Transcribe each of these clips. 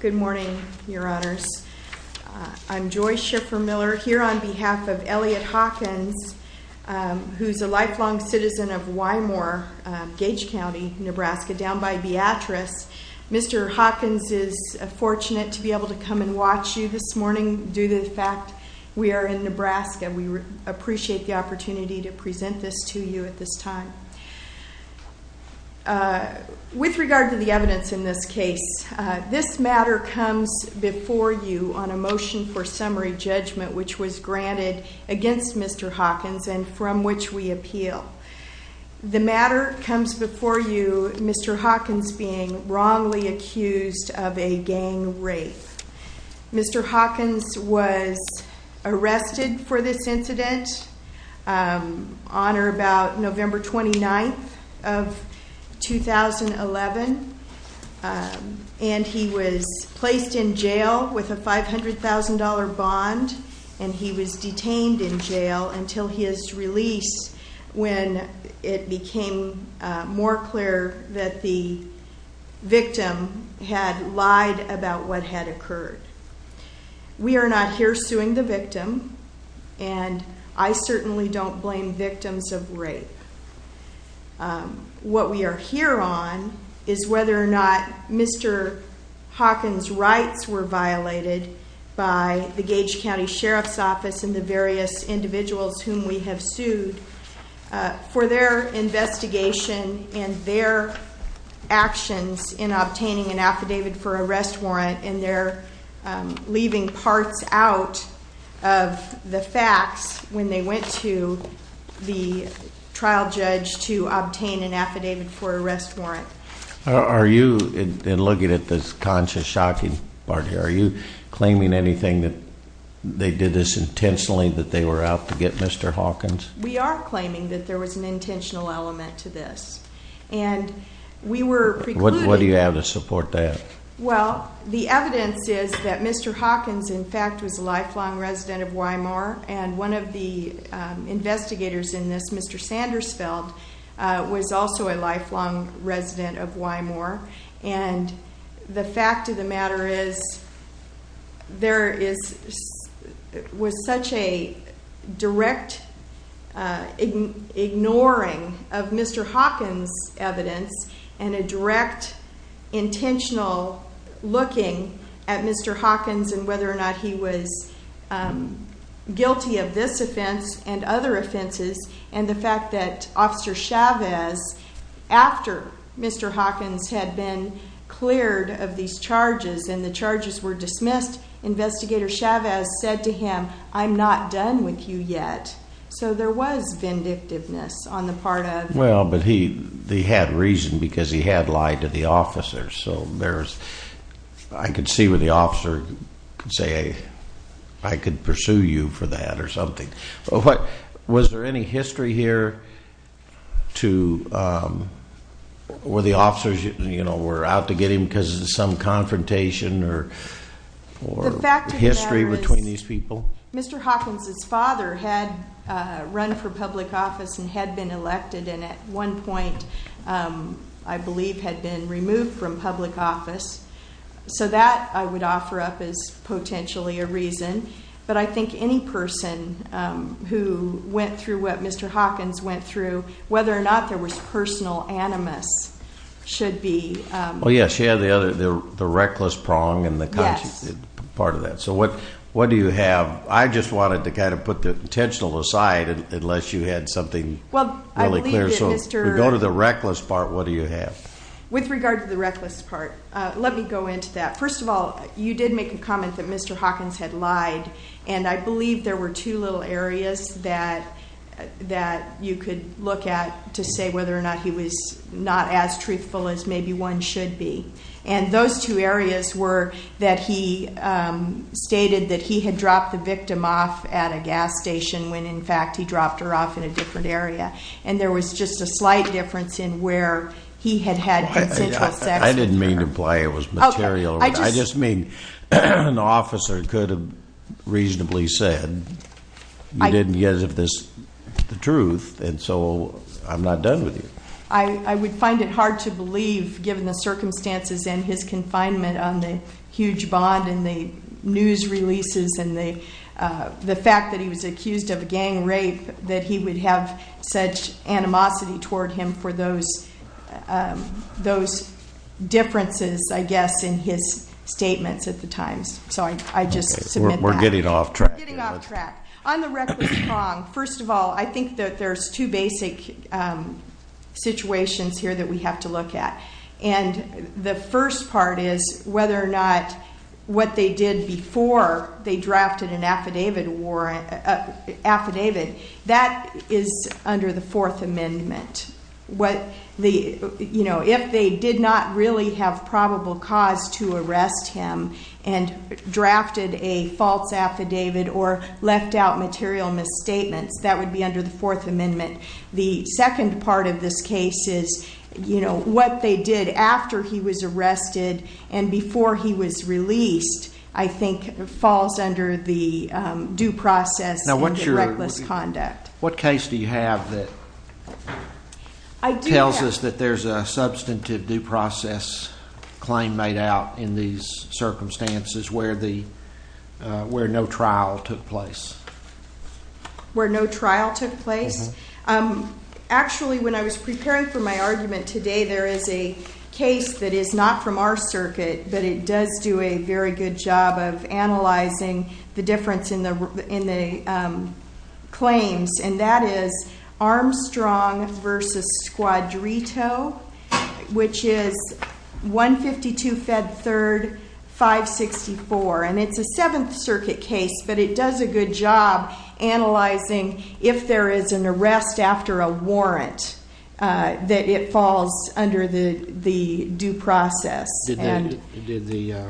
Good morning, your honors. I'm Joy Schiffer-Miller, here on behalf of Elliot Hawkins, who's a lifelong citizen of Wymore, Gage County, Nebraska, down by Beatrice. Mr. Hawkins is fortunate to be able to come and watch you this morning due to the fact we are in Nebraska. We appreciate the opportunity to present this to you at this time. With regard to the evidence in this case, this matter comes before you on a motion for summary judgment which was granted against Mr. Hawkins and from which we appeal. The matter comes before you, Mr. Hawkins being wrongly accused of a gang rape. Mr. Hawkins was arrested for this incident on or about November 29th of 2011. And he was placed in jail with a $500,000 bond and he was detained in jail until his release when it became more clear that the victim had lied about what had occurred. We are not here suing the victim and I certainly don't blame victims of rape. What we are here on is whether or not Mr. Hawkins' rights were violated by the Gage County Sheriff's Office and the various individuals whom we have sued for their investigation and their actions in obtaining an affidavit for arrest warrant. And they're leaving parts out of the facts when they went to the trial judge to obtain an affidavit for arrest warrant. Are you, in looking at this conscious shocking part here, are you claiming anything that they did this intentionally that they were out to get Mr. Hawkins? We are claiming that there was an intentional element to this. What do you have to support that? Well, the evidence is that Mr. Hawkins in fact was a lifelong resident of Weymour and one of the investigators in this, Mr. Sandersfeld, was also a lifelong resident of Weymour. And the fact of the matter is there was such a direct ignoring of Mr. Hawkins' evidence and a direct intentional looking at Mr. Hawkins and whether or not he was guilty of this offense and other offenses. And the fact that Officer Chavez, after Mr. Hawkins had been cleared of these charges and the charges were dismissed, Investigator Chavez said to him, I'm not done with you yet. So there was vindictiveness on the part of... Is there any history here to where the officers were out to get him because of some confrontation or history between these people? The fact of the matter is Mr. Hawkins' father had run for public office and had been elected and at one point I believe had been removed from public office. So that I would offer up as potentially a reason. But I think any person who went through what Mr. Hawkins went through, whether or not there was personal animus should be... Well, yes, she had the reckless prong and the conscious part of that. So what do you have? I just wanted to kind of put the intentional aside unless you had something really clear. Well, I believe that Mr. If we go to the reckless part, what do you have? With regard to the reckless part, let me go into that. First of all, you did make a comment that Mr. Hawkins had lied. And I believe there were two little areas that you could look at to say whether or not he was not as truthful as maybe one should be. And those two areas were that he stated that he had dropped the victim off at a gas station when in fact he dropped her off in a different area. And there was just a slight difference in where he had had had sexual sex with her. I didn't mean to imply it was material. I just mean an officer could have reasonably said, you didn't give this the truth, and so I'm not done with you. I would find it hard to believe, given the circumstances and his confinement on the huge bond and the news releases and the fact that he was accused of a gang rape, that he would have such animosity toward him for those differences, I guess, in his statements at the Times. So I just submit that. We're getting off track. Getting off track. On the reckless prong, first of all, I think that there's two basic situations here that we have to look at. And the first part is whether or not what they did before they drafted an affidavit, that is under the Fourth Amendment. If they did not really have probable cause to arrest him and drafted a false affidavit or left out material misstatements, that would be under the Fourth Amendment. The second part of this case is what they did after he was arrested and before he was released, I think, falls under the due process and the reckless conduct. What case do you have that tells us that there's a substantive due process claim made out in these circumstances where no trial took place? Where no trial took place? Actually, when I was preparing for my argument today, there is a case that is not from our circuit, but it does do a very good job of analyzing the difference in the claims. And that is Armstrong v. Squadrito, which is 152 Fed 3rd, 564. And it's a Seventh Circuit case, but it does a good job analyzing if there is an arrest after a warrant that it falls under the due process. Did the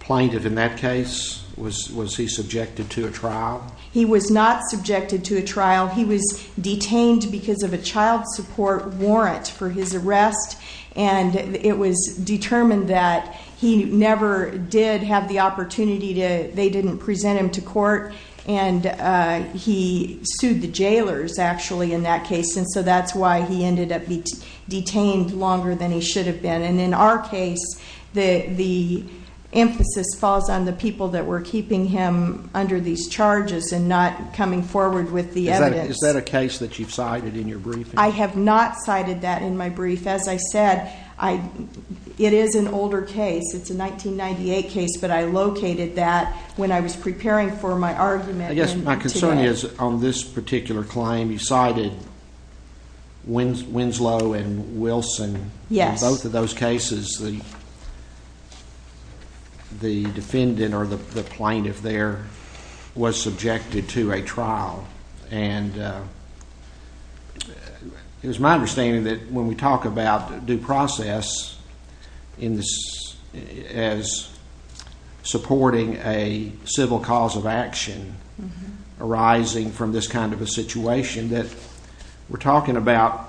plaintiff in that case, was he subjected to a trial? He was not subjected to a trial. He was detained because of a child support warrant for his arrest. And it was determined that he never did have the opportunity to, they didn't present him to court. And he sued the jailers, actually, in that case. And so that's why he ended up detained longer than he should have been. And in our case, the emphasis falls on the people that were keeping him under these charges and not coming forward with the evidence. Is that a case that you've cited in your briefing? I have not cited that in my brief. As I said, it is an older case. It's a 1998 case, but I located that when I was preparing for my argument today. I guess my concern is on this particular claim, you cited Winslow and Wilson. In both of those cases, the defendant or the plaintiff there was subjected to a trial. And it was my understanding that when we talk about due process as supporting a civil cause of action arising from this kind of a situation, that we're talking about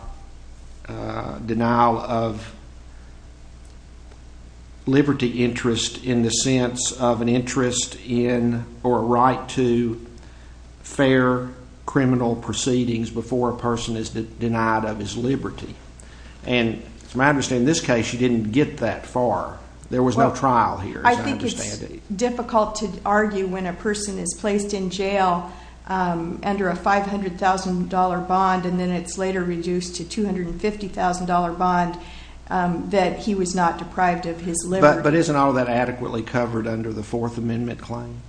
denial of liberty interest in the sense of an interest in or a right to fair criminal proceedings before a person is denied of his liberty. And from my understanding, in this case, you didn't get that far. There was no trial here, as I understand it. It's difficult to argue when a person is placed in jail under a $500,000 bond, and then it's later reduced to a $250,000 bond, that he was not deprived of his liberty. But isn't all of that adequately covered under the Fourth Amendment claim?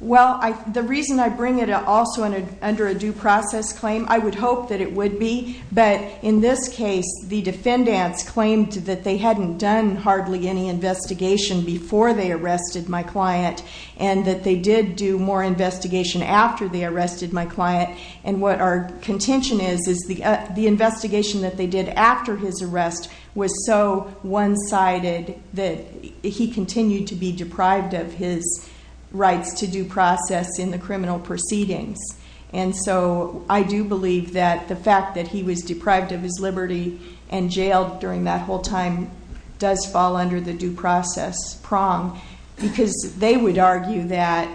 Well, the reason I bring it also under a due process claim, I would hope that it would be. But in this case, the defendants claimed that they hadn't done hardly any investigation before they arrested my client. And that they did do more investigation after they arrested my client. And what our contention is is the investigation that they did after his arrest was so one-sided that he continued to be deprived of his rights to due process in the criminal proceedings. And so I do believe that the fact that he was deprived of his liberty and jailed during that whole time does fall under the due process prong. Because they would argue that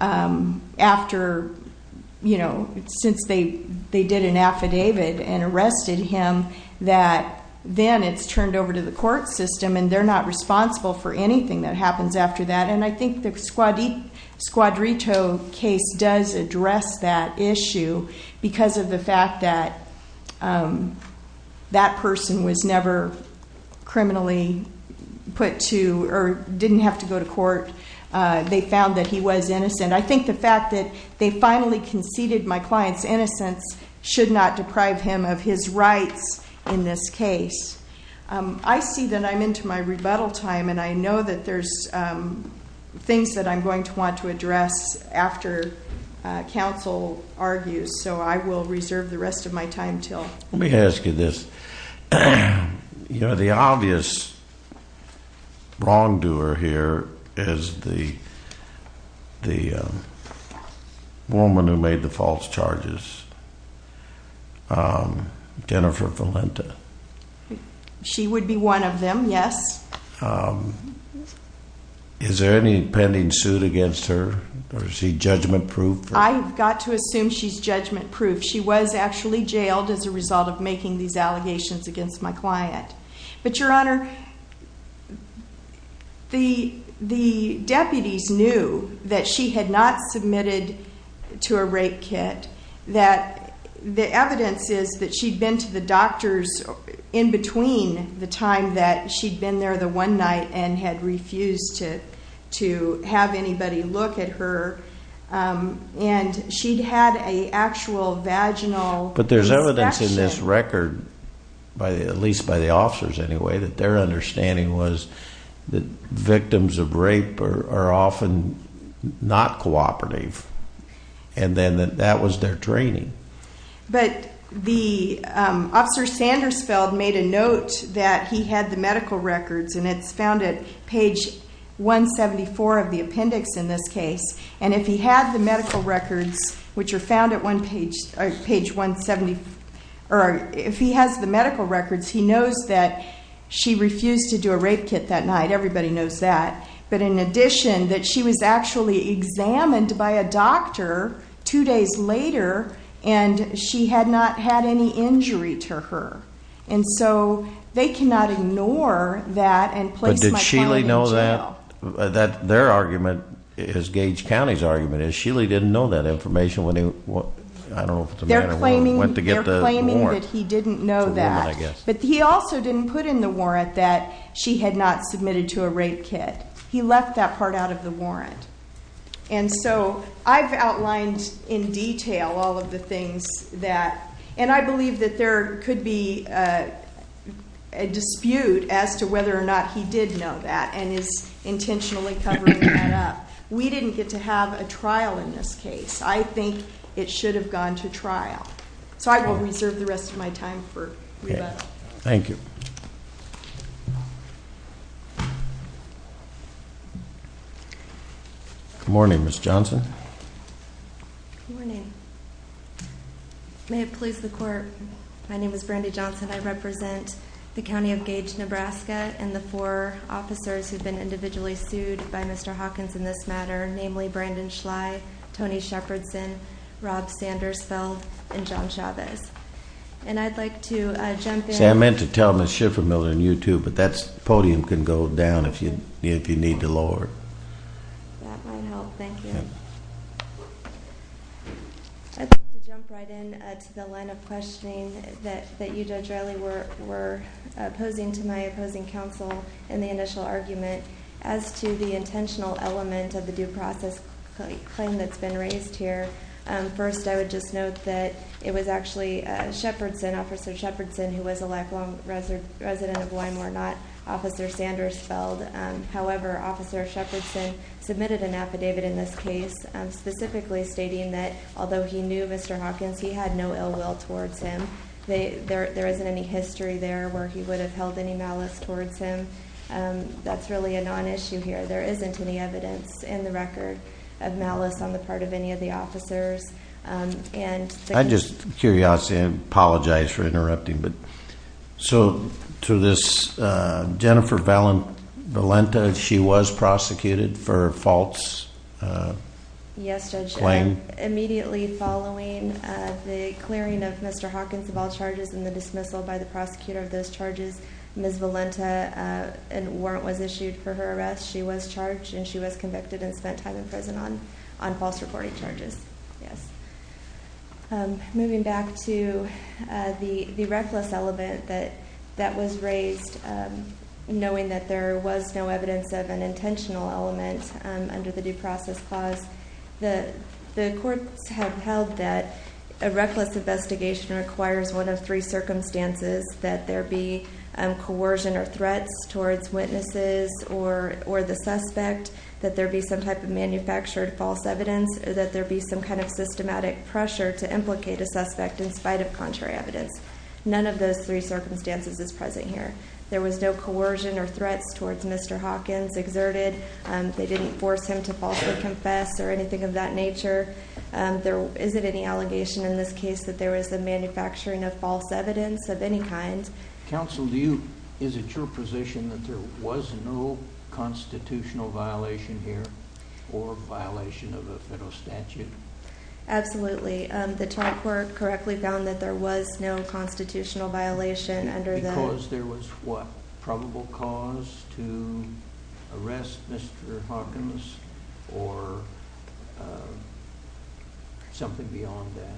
after, you know, since they did an affidavit and arrested him, that then it's turned over to the court system. And they're not responsible for anything that happens after that. And I think the Squadrito case does address that issue because of the fact that that person was never criminally put to or didn't have to go to court. They found that he was innocent. I think the fact that they finally conceded my client's innocence should not deprive him of his rights in this case. I see that I'm into my rebuttal time. And I know that there's things that I'm going to want to address after counsel argues. So I will reserve the rest of my time until. Let me ask you this. You know, the obvious wrongdoer here is the woman who made the false charges, Jennifer Valenta. She would be one of them, yes. Is there any pending suit against her or is she judgment-proof? I've got to assume she's judgment-proof. She was actually jailed as a result of making these allegations against my client. But, Your Honor, the deputies knew that she had not submitted to a rape kit. The evidence is that she'd been to the doctors in between the time that she'd been there the one night and had refused to have anybody look at her. And she'd had an actual vaginal inspection. It's in this record, at least by the officers anyway, that their understanding was that victims of rape are often not cooperative. And then that was their training. But the officer Sandersfeld made a note that he had the medical records, and it's found at page 174 of the appendix in this case. And if he had the medical records, which are found at page 170, or if he has the medical records, he knows that she refused to do a rape kit that night. Everybody knows that. But in addition, that she was actually examined by a doctor two days later, and she had not had any injury to her. And so they cannot ignore that and place my client in jail. Their argument is Gage County's argument, is Shealy didn't know that information when he went to get the warrant. They're claiming that he didn't know that. But he also didn't put in the warrant that she had not submitted to a rape kit. He left that part out of the warrant. And so I've outlined in detail all of the things that, and I believe that there could be a dispute as to whether or not he did know that. And is intentionally covering that up. We didn't get to have a trial in this case. I think it should have gone to trial. So I will reserve the rest of my time for rebuttal. Thank you. Good morning, Ms. Johnson. Good morning. May it please the court, my name is Brandi Johnson. I represent the county of Gage, Nebraska, and the four officers who've been individually sued by Mr. Hawkins in this matter, namely Brandon Schley, Tony Shepardson, Rob Sandersfeld, and John Chavez. And I'd like to jump in. See, I meant to tell Ms. Schiffermiller and you two, but that podium can go down if you need to lower it. That might help. Thank you. Ms. Johnson. I'd like to jump right in to the line of questioning that you, Judge Riley, were opposing to my opposing counsel in the initial argument as to the intentional element of the due process claim that's been raised here. First, I would just note that it was actually Shepardson, Officer Shepardson, who was a lifelong resident of Weimar, not Officer Sandersfeld. However, Officer Shepardson submitted an affidavit in this case specifically stating that although he knew Mr. Hawkins, he had no ill will towards him. There isn't any history there where he would have held any malice towards him. That's really a non-issue here. There isn't any evidence in the record of malice on the part of any of the officers. I'm just curious. I apologize for interrupting. To this Jennifer Valenta, she was prosecuted for false claim? Yes, Judge. Immediately following the clearing of Mr. Hawkins of all charges and the dismissal by the prosecutor of those charges, Ms. Valenta, a warrant was issued for her arrest. She was charged and she was convicted and spent time in prison on false reporting charges. Yes. Moving back to the reckless element that was raised, knowing that there was no evidence of an intentional element under the due process clause, the courts have held that a reckless investigation requires one of three circumstances, that there be coercion or threats towards witnesses or the suspect, that there be some type of manufactured false evidence, that there be some kind of systematic pressure to implicate a suspect in spite of contrary evidence. None of those three circumstances is present here. There was no coercion or threats towards Mr. Hawkins exerted. They didn't force him to falsely confess or anything of that nature. Is it any allegation in this case that there was a manufacturing of false evidence of any kind? Counsel, is it your position that there was no constitutional violation here or violation of a federal statute? Absolutely. The trial court correctly found that there was no constitutional violation under the... Something beyond that.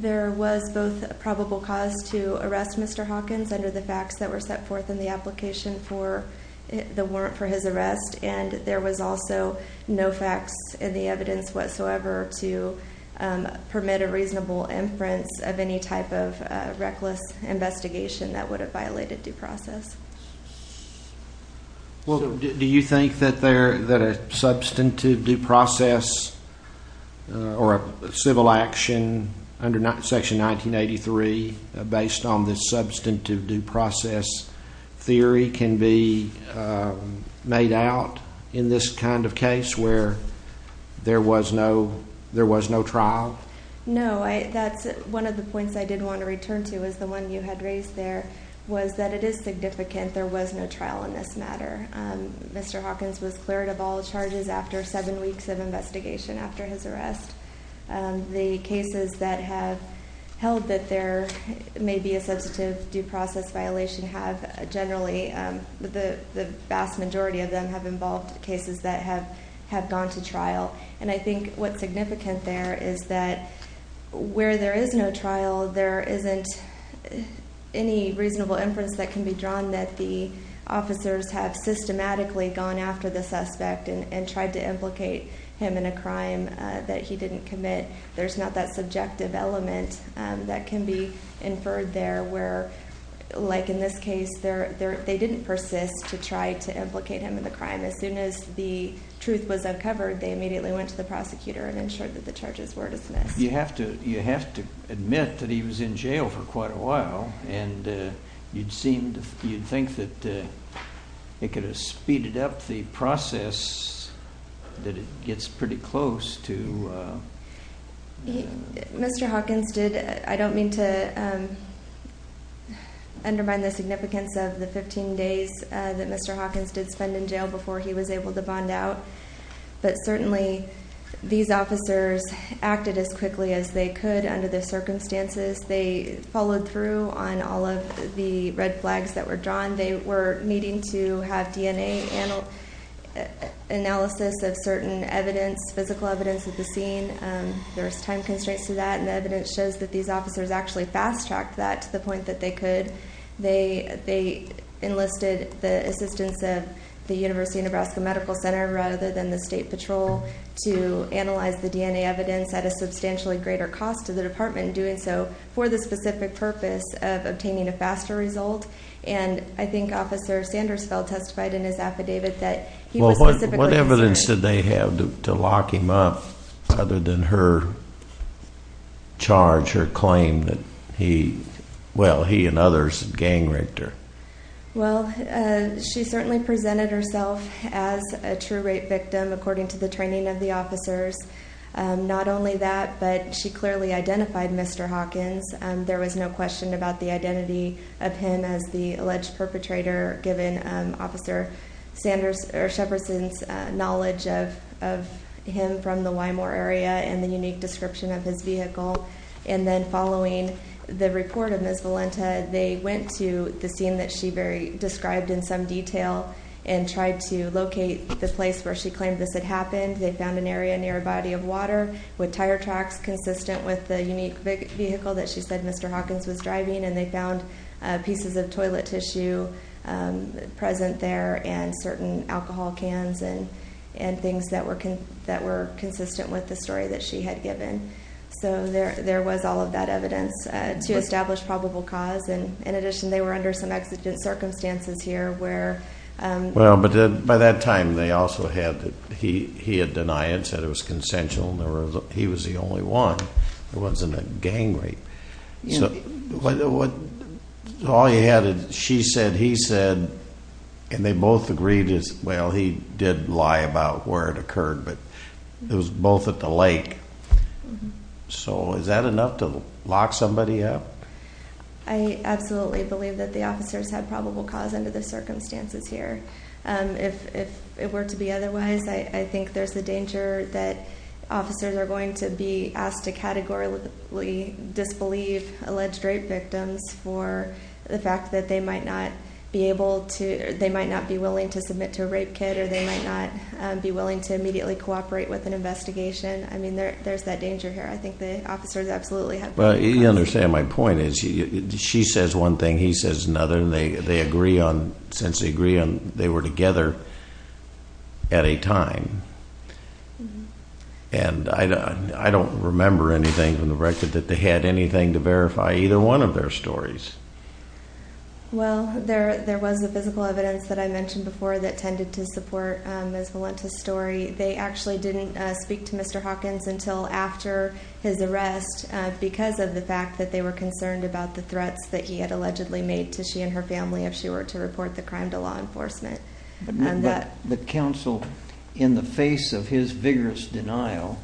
There was both probable cause to arrest Mr. Hawkins under the facts that were set forth in the application for his arrest and there was also no facts in the evidence whatsoever to permit a reasonable inference of any type of reckless investigation that would have violated due process. Well, do you think that a substantive due process or a civil action under Section 1983 based on this substantive due process theory can be made out in this kind of case where there was no trial? No. That's one of the points I did want to return to is the one you had raised there was that it is significant there was no trial in this matter. Mr. Hawkins was cleared of all charges after seven weeks of investigation after his arrest. The cases that have held that there may be a substantive due process violation have generally... The vast majority of them have involved cases that have gone to trial. And I think what's significant there is that where there is no trial, there isn't any reasonable inference that can be drawn that the officers have systematically gone after the suspect and tried to implicate him in a crime that he didn't commit. There's not that subjective element that can be inferred there where, like in this case, they didn't persist to try to implicate him in the crime. As soon as the truth was uncovered, they immediately went to the prosecutor and ensured that the charges were dismissed. You have to admit that he was in jail for quite a while, and you'd think that it could have speeded up the process that it gets pretty close to... Mr. Hawkins did... I don't mean to undermine the significance of the 15 days that Mr. Hawkins did spend in jail before he was able to bond out. But certainly, these officers acted as quickly as they could under the circumstances. They followed through on all of the red flags that were drawn. They were needing to have DNA analysis of certain evidence, physical evidence at the scene. There's time constraints to that, and evidence shows that these officers actually fast-tracked that to the point that they could. They enlisted the assistance of the University of Nebraska Medical Center rather than the State Patrol to analyze the DNA evidence at a substantially greater cost to the department, doing so for the specific purpose of obtaining a faster result. And I think Officer Sandersfeld testified in his affidavit that he was specifically concerned... in her charge, her claim that he and others gang-raped her. Well, she certainly presented herself as a true rape victim according to the training of the officers. Not only that, but she clearly identified Mr. Hawkins. There was no question about the identity of him as the alleged perpetrator, given Officer Sheperson's knowledge of him from the Wymore area and the unique description of his vehicle. And then following the report of Ms. Valenta, they went to the scene that she described in some detail and tried to locate the place where she claimed this had happened. They found an area near a body of water with tire tracks consistent with the unique vehicle that she said Mr. Hawkins was driving. And they found pieces of toilet tissue present there and certain alcohol cans and things that were consistent with the story that she had given. So there was all of that evidence to establish probable cause. And in addition, they were under some exigent circumstances here where... Well, but by that time, they also had... he had denied it, said it was consensual. He was the only one. It wasn't a gang rape. So all you had is she said, he said, and they both agreed, well, he did lie about where it occurred, but it was both at the lake. So is that enough to lock somebody up? I absolutely believe that the officers had probable cause under the circumstances here. If it were to be otherwise, I think there's a danger that officers are going to be asked to categorically disbelieve alleged rape victims for the fact that they might not be able to, they might not be willing to submit to a rape kit or they might not be willing to immediately cooperate with an investigation. I mean, there's that danger here. I think the officers absolutely have probable cause. You understand my point. She says one thing, he says another. And they agree on, since they agree on, they were together at a time. And I don't remember anything from the record that they had anything to verify either one of their stories. Well, there was a physical evidence that I mentioned before that tended to support Ms. Valenta's story. They actually didn't speak to Mr. Hawkins until after his arrest because of the fact that they were concerned about the threats that he had allegedly made to she and her family if she were to report the crime to law enforcement. But counsel, in the face of his vigorous denial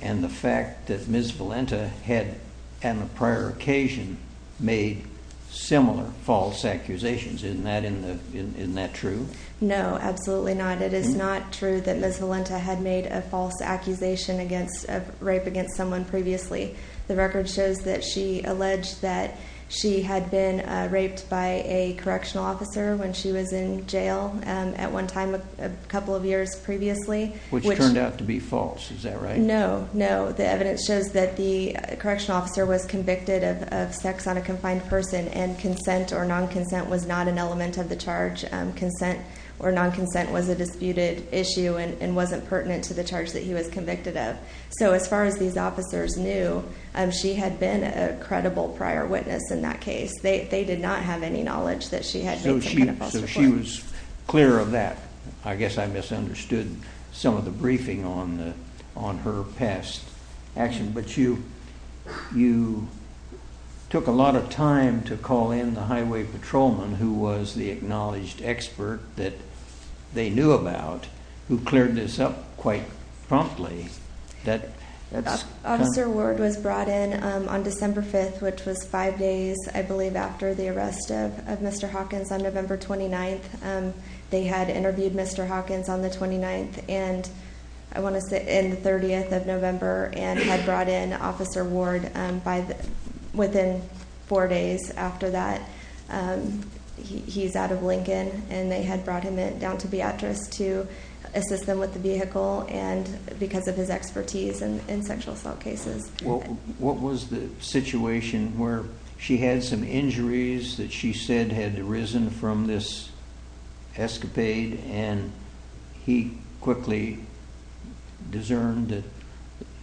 and the fact that Ms. Valenta had, on a prior occasion, made similar false accusations, isn't that true? No, absolutely not. It is not true that Ms. Valenta had made a false accusation of rape against someone previously. The record shows that she alleged that she had been raped by a correctional officer when she was in jail at one time a couple of years previously. Which turned out to be false. Is that right? No, no. The evidence shows that the correctional officer was convicted of sex on a confined person and consent or non-consent was not an element of the charge. Consent or non-consent was a disputed issue and wasn't pertinent to the charge that he was convicted of. So as far as these officers knew, she had been a credible prior witness in that case. They did not have any knowledge that she had made some kind of false accusation. So she was clear of that. I guess I misunderstood some of the briefing on her past action. But you took a lot of time to call in the highway patrolman, who was the acknowledged expert that they knew about, who cleared this up quite promptly. Officer Ward was brought in on December 5th, which was five days, I believe, after the arrest of Mr. Hawkins on November 29th. They had interviewed Mr. Hawkins on the 29th and the 30th of November and had brought in Officer Ward within four days after that. He's out of Lincoln, and they had brought him down to Beatrice to assist them with the vehicle because of his expertise in sexual assault cases. What was the situation where she had some injuries that she said had arisen from this escapade and he quickly discerned that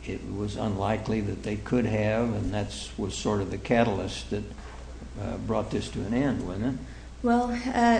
it was unlikely that they could have and that was sort of the catalyst that brought this to an end, wasn't it? Well,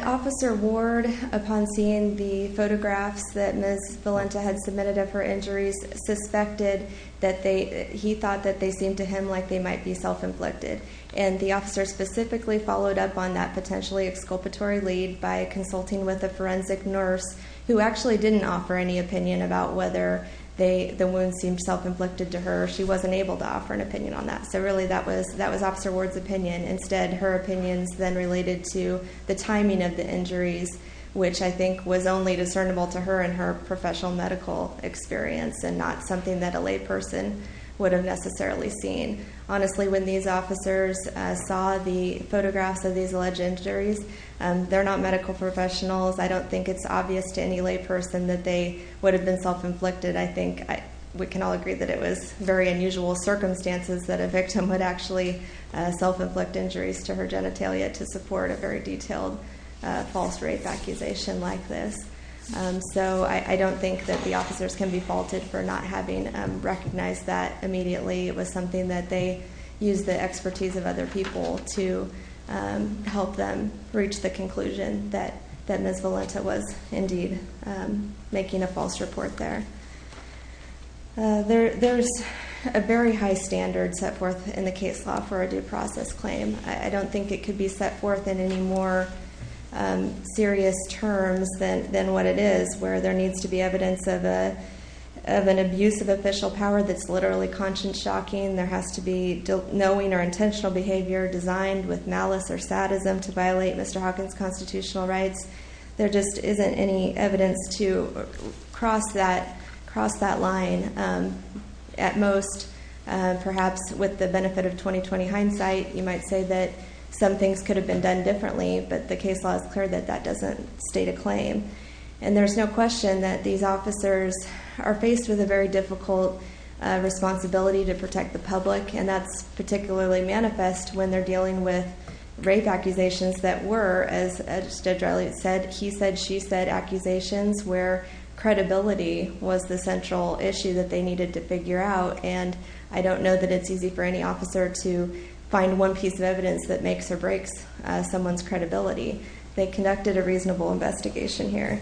Officer Ward, upon seeing the photographs that Ms. Valenta had submitted of her injuries, suspected that they, he thought that they seemed to him like they might be self-inflicted. And the officer specifically followed up on that potentially exculpatory lead by consulting with a forensic nurse who actually didn't offer any opinion about whether the wounds seemed self-inflicted to her. She wasn't able to offer an opinion on that. So really that was Officer Ward's opinion. Instead, her opinion is then related to the timing of the injuries, which I think was only discernible to her in her professional medical experience and not something that a layperson would have necessarily seen. Honestly, when these officers saw the photographs of these alleged injuries, they're not medical professionals. I don't think it's obvious to any layperson that they would have been self-inflicted. I think we can all agree that it was very unusual circumstances that a victim would actually self-inflict injuries to her genitalia to support a very detailed false rape accusation like this. So I don't think that the officers can be faulted for not having recognized that immediately. It was something that they used the expertise of other people to help them reach the conclusion that Ms. Valenta was indeed making a false report there. There's a very high standard set forth in the case law for a due process claim. I don't think it could be set forth in any more serious terms than what it is, where there needs to be evidence of an abuse of official power that's literally conscience-shocking. There has to be knowing or intentional behavior designed with malice or sadism to violate Mr. Hawkins' constitutional rights. There just isn't any evidence to cross that line. At most, perhaps with the benefit of 20-20 hindsight, you might say that some things could have been done differently, but the case law is clear that that doesn't state a claim. And there's no question that these officers are faced with a very difficult responsibility to protect the public, and that's particularly manifest when they're dealing with rape accusations that were, as Judge Elliot said, he said, she said, accusations where credibility was the central issue that they needed to figure out. And I don't know that it's easy for any officer to find one piece of evidence that makes or breaks someone's credibility. They conducted a reasonable investigation here.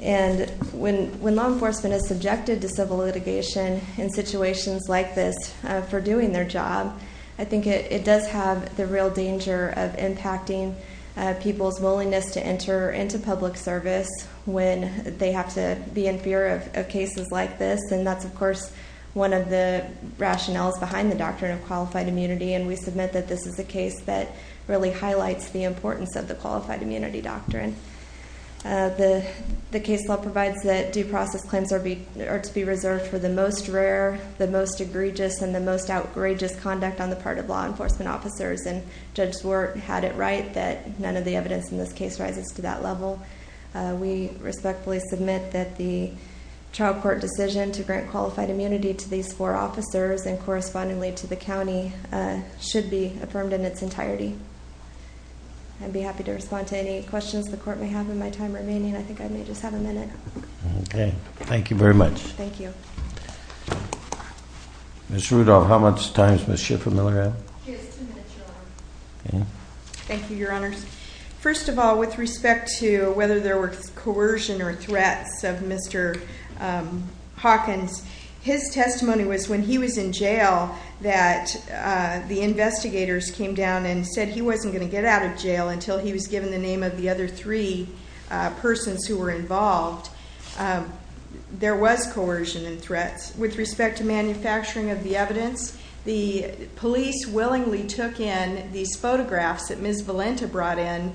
And when law enforcement is subjected to civil litigation in situations like this for doing their job, I think it does have the real danger of impacting people's willingness to enter into public service when they have to be in fear of cases like this, and that's, of course, one of the rationales behind the doctrine of qualified immunity, and we submit that this is a case that really highlights the importance of the qualified immunity doctrine. The case law provides that due process claims are to be reserved for the most rare, the most egregious, and the most outrageous conduct on the part of law enforcement officers, and Judge Swart had it right that none of the evidence in this case rises to that level. We respectfully submit that the trial court decision to grant qualified immunity to these four officers and correspondingly to the county should be affirmed in its entirety. I'd be happy to respond to any questions the court may have in my time remaining. I think I may just have a minute. Okay. Thank you very much. Thank you. Ms. Rudolph, how much time is Ms. Schiffer-Miller out? She has two minutes, Your Honor. Okay. Thank you, Your Honors. First of all, with respect to whether there were coercion or threats of Mr. Hawkins, his testimony was when he was in jail that the investigators came down and said he wasn't going to get out of jail until he was given the name of the other three persons who were involved. There was coercion and threats. With respect to manufacturing of the evidence, the police willingly took in these photographs that Ms. Valenta brought in,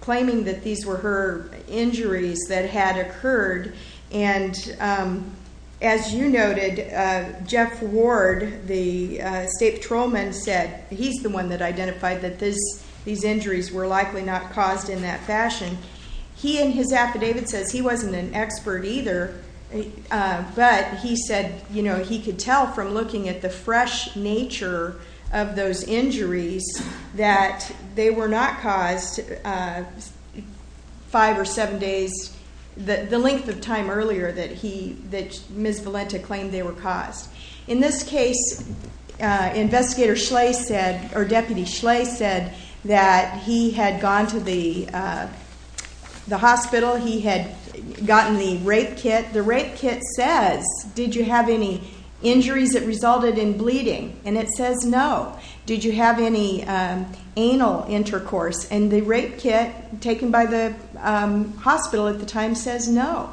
claiming that these were her injuries that had occurred. And as you noted, Jeff Ward, the state patrolman, said he's the one that identified that these injuries were likely not caused in that fashion. He in his affidavit says he wasn't an expert either, but he said he could tell from looking at the fresh nature of those injuries that they were not caused five or seven days. The length of time earlier that Ms. Valenta claimed they were caused. In this case, Investigator Schley said, or Deputy Schley said, that he had gone to the hospital. He had gotten the rape kit. The rape kit says, did you have any injuries that resulted in bleeding? And it says no. Did you have any anal intercourse? And the rape kit taken by the hospital at the time says no.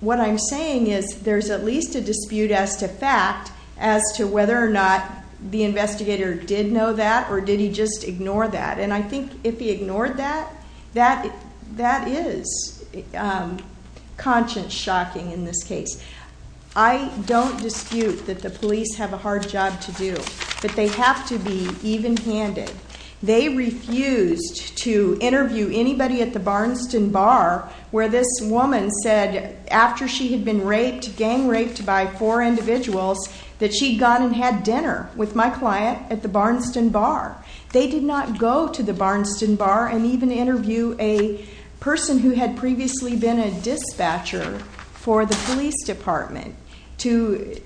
What I'm saying is there's at least a dispute as to fact as to whether or not the investigator did know that or did he just ignore that. And I think if he ignored that, that is conscience-shocking in this case. I don't dispute that the police have a hard job to do, but they have to be even-handed. They refused to interview anybody at the Barnston Bar where this woman said after she had been raped, gang raped by four individuals, that she had gone and had dinner with my client at the Barnston Bar. They did not go to the Barnston Bar and even interview a person who had previously been a dispatcher for the police department. To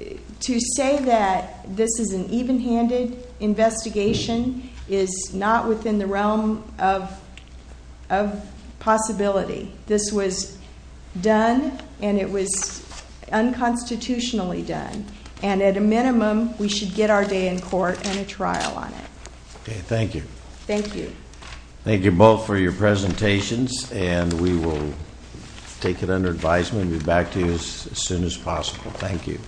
say that this is an even-handed investigation is not within the realm of possibility. This was done, and it was unconstitutionally done. And at a minimum, we should get our day in court and a trial on it. Okay, thank you. Thank you. Thank you both for your presentations, and we will take it under advisement and be back to you as soon as possible. Thank you.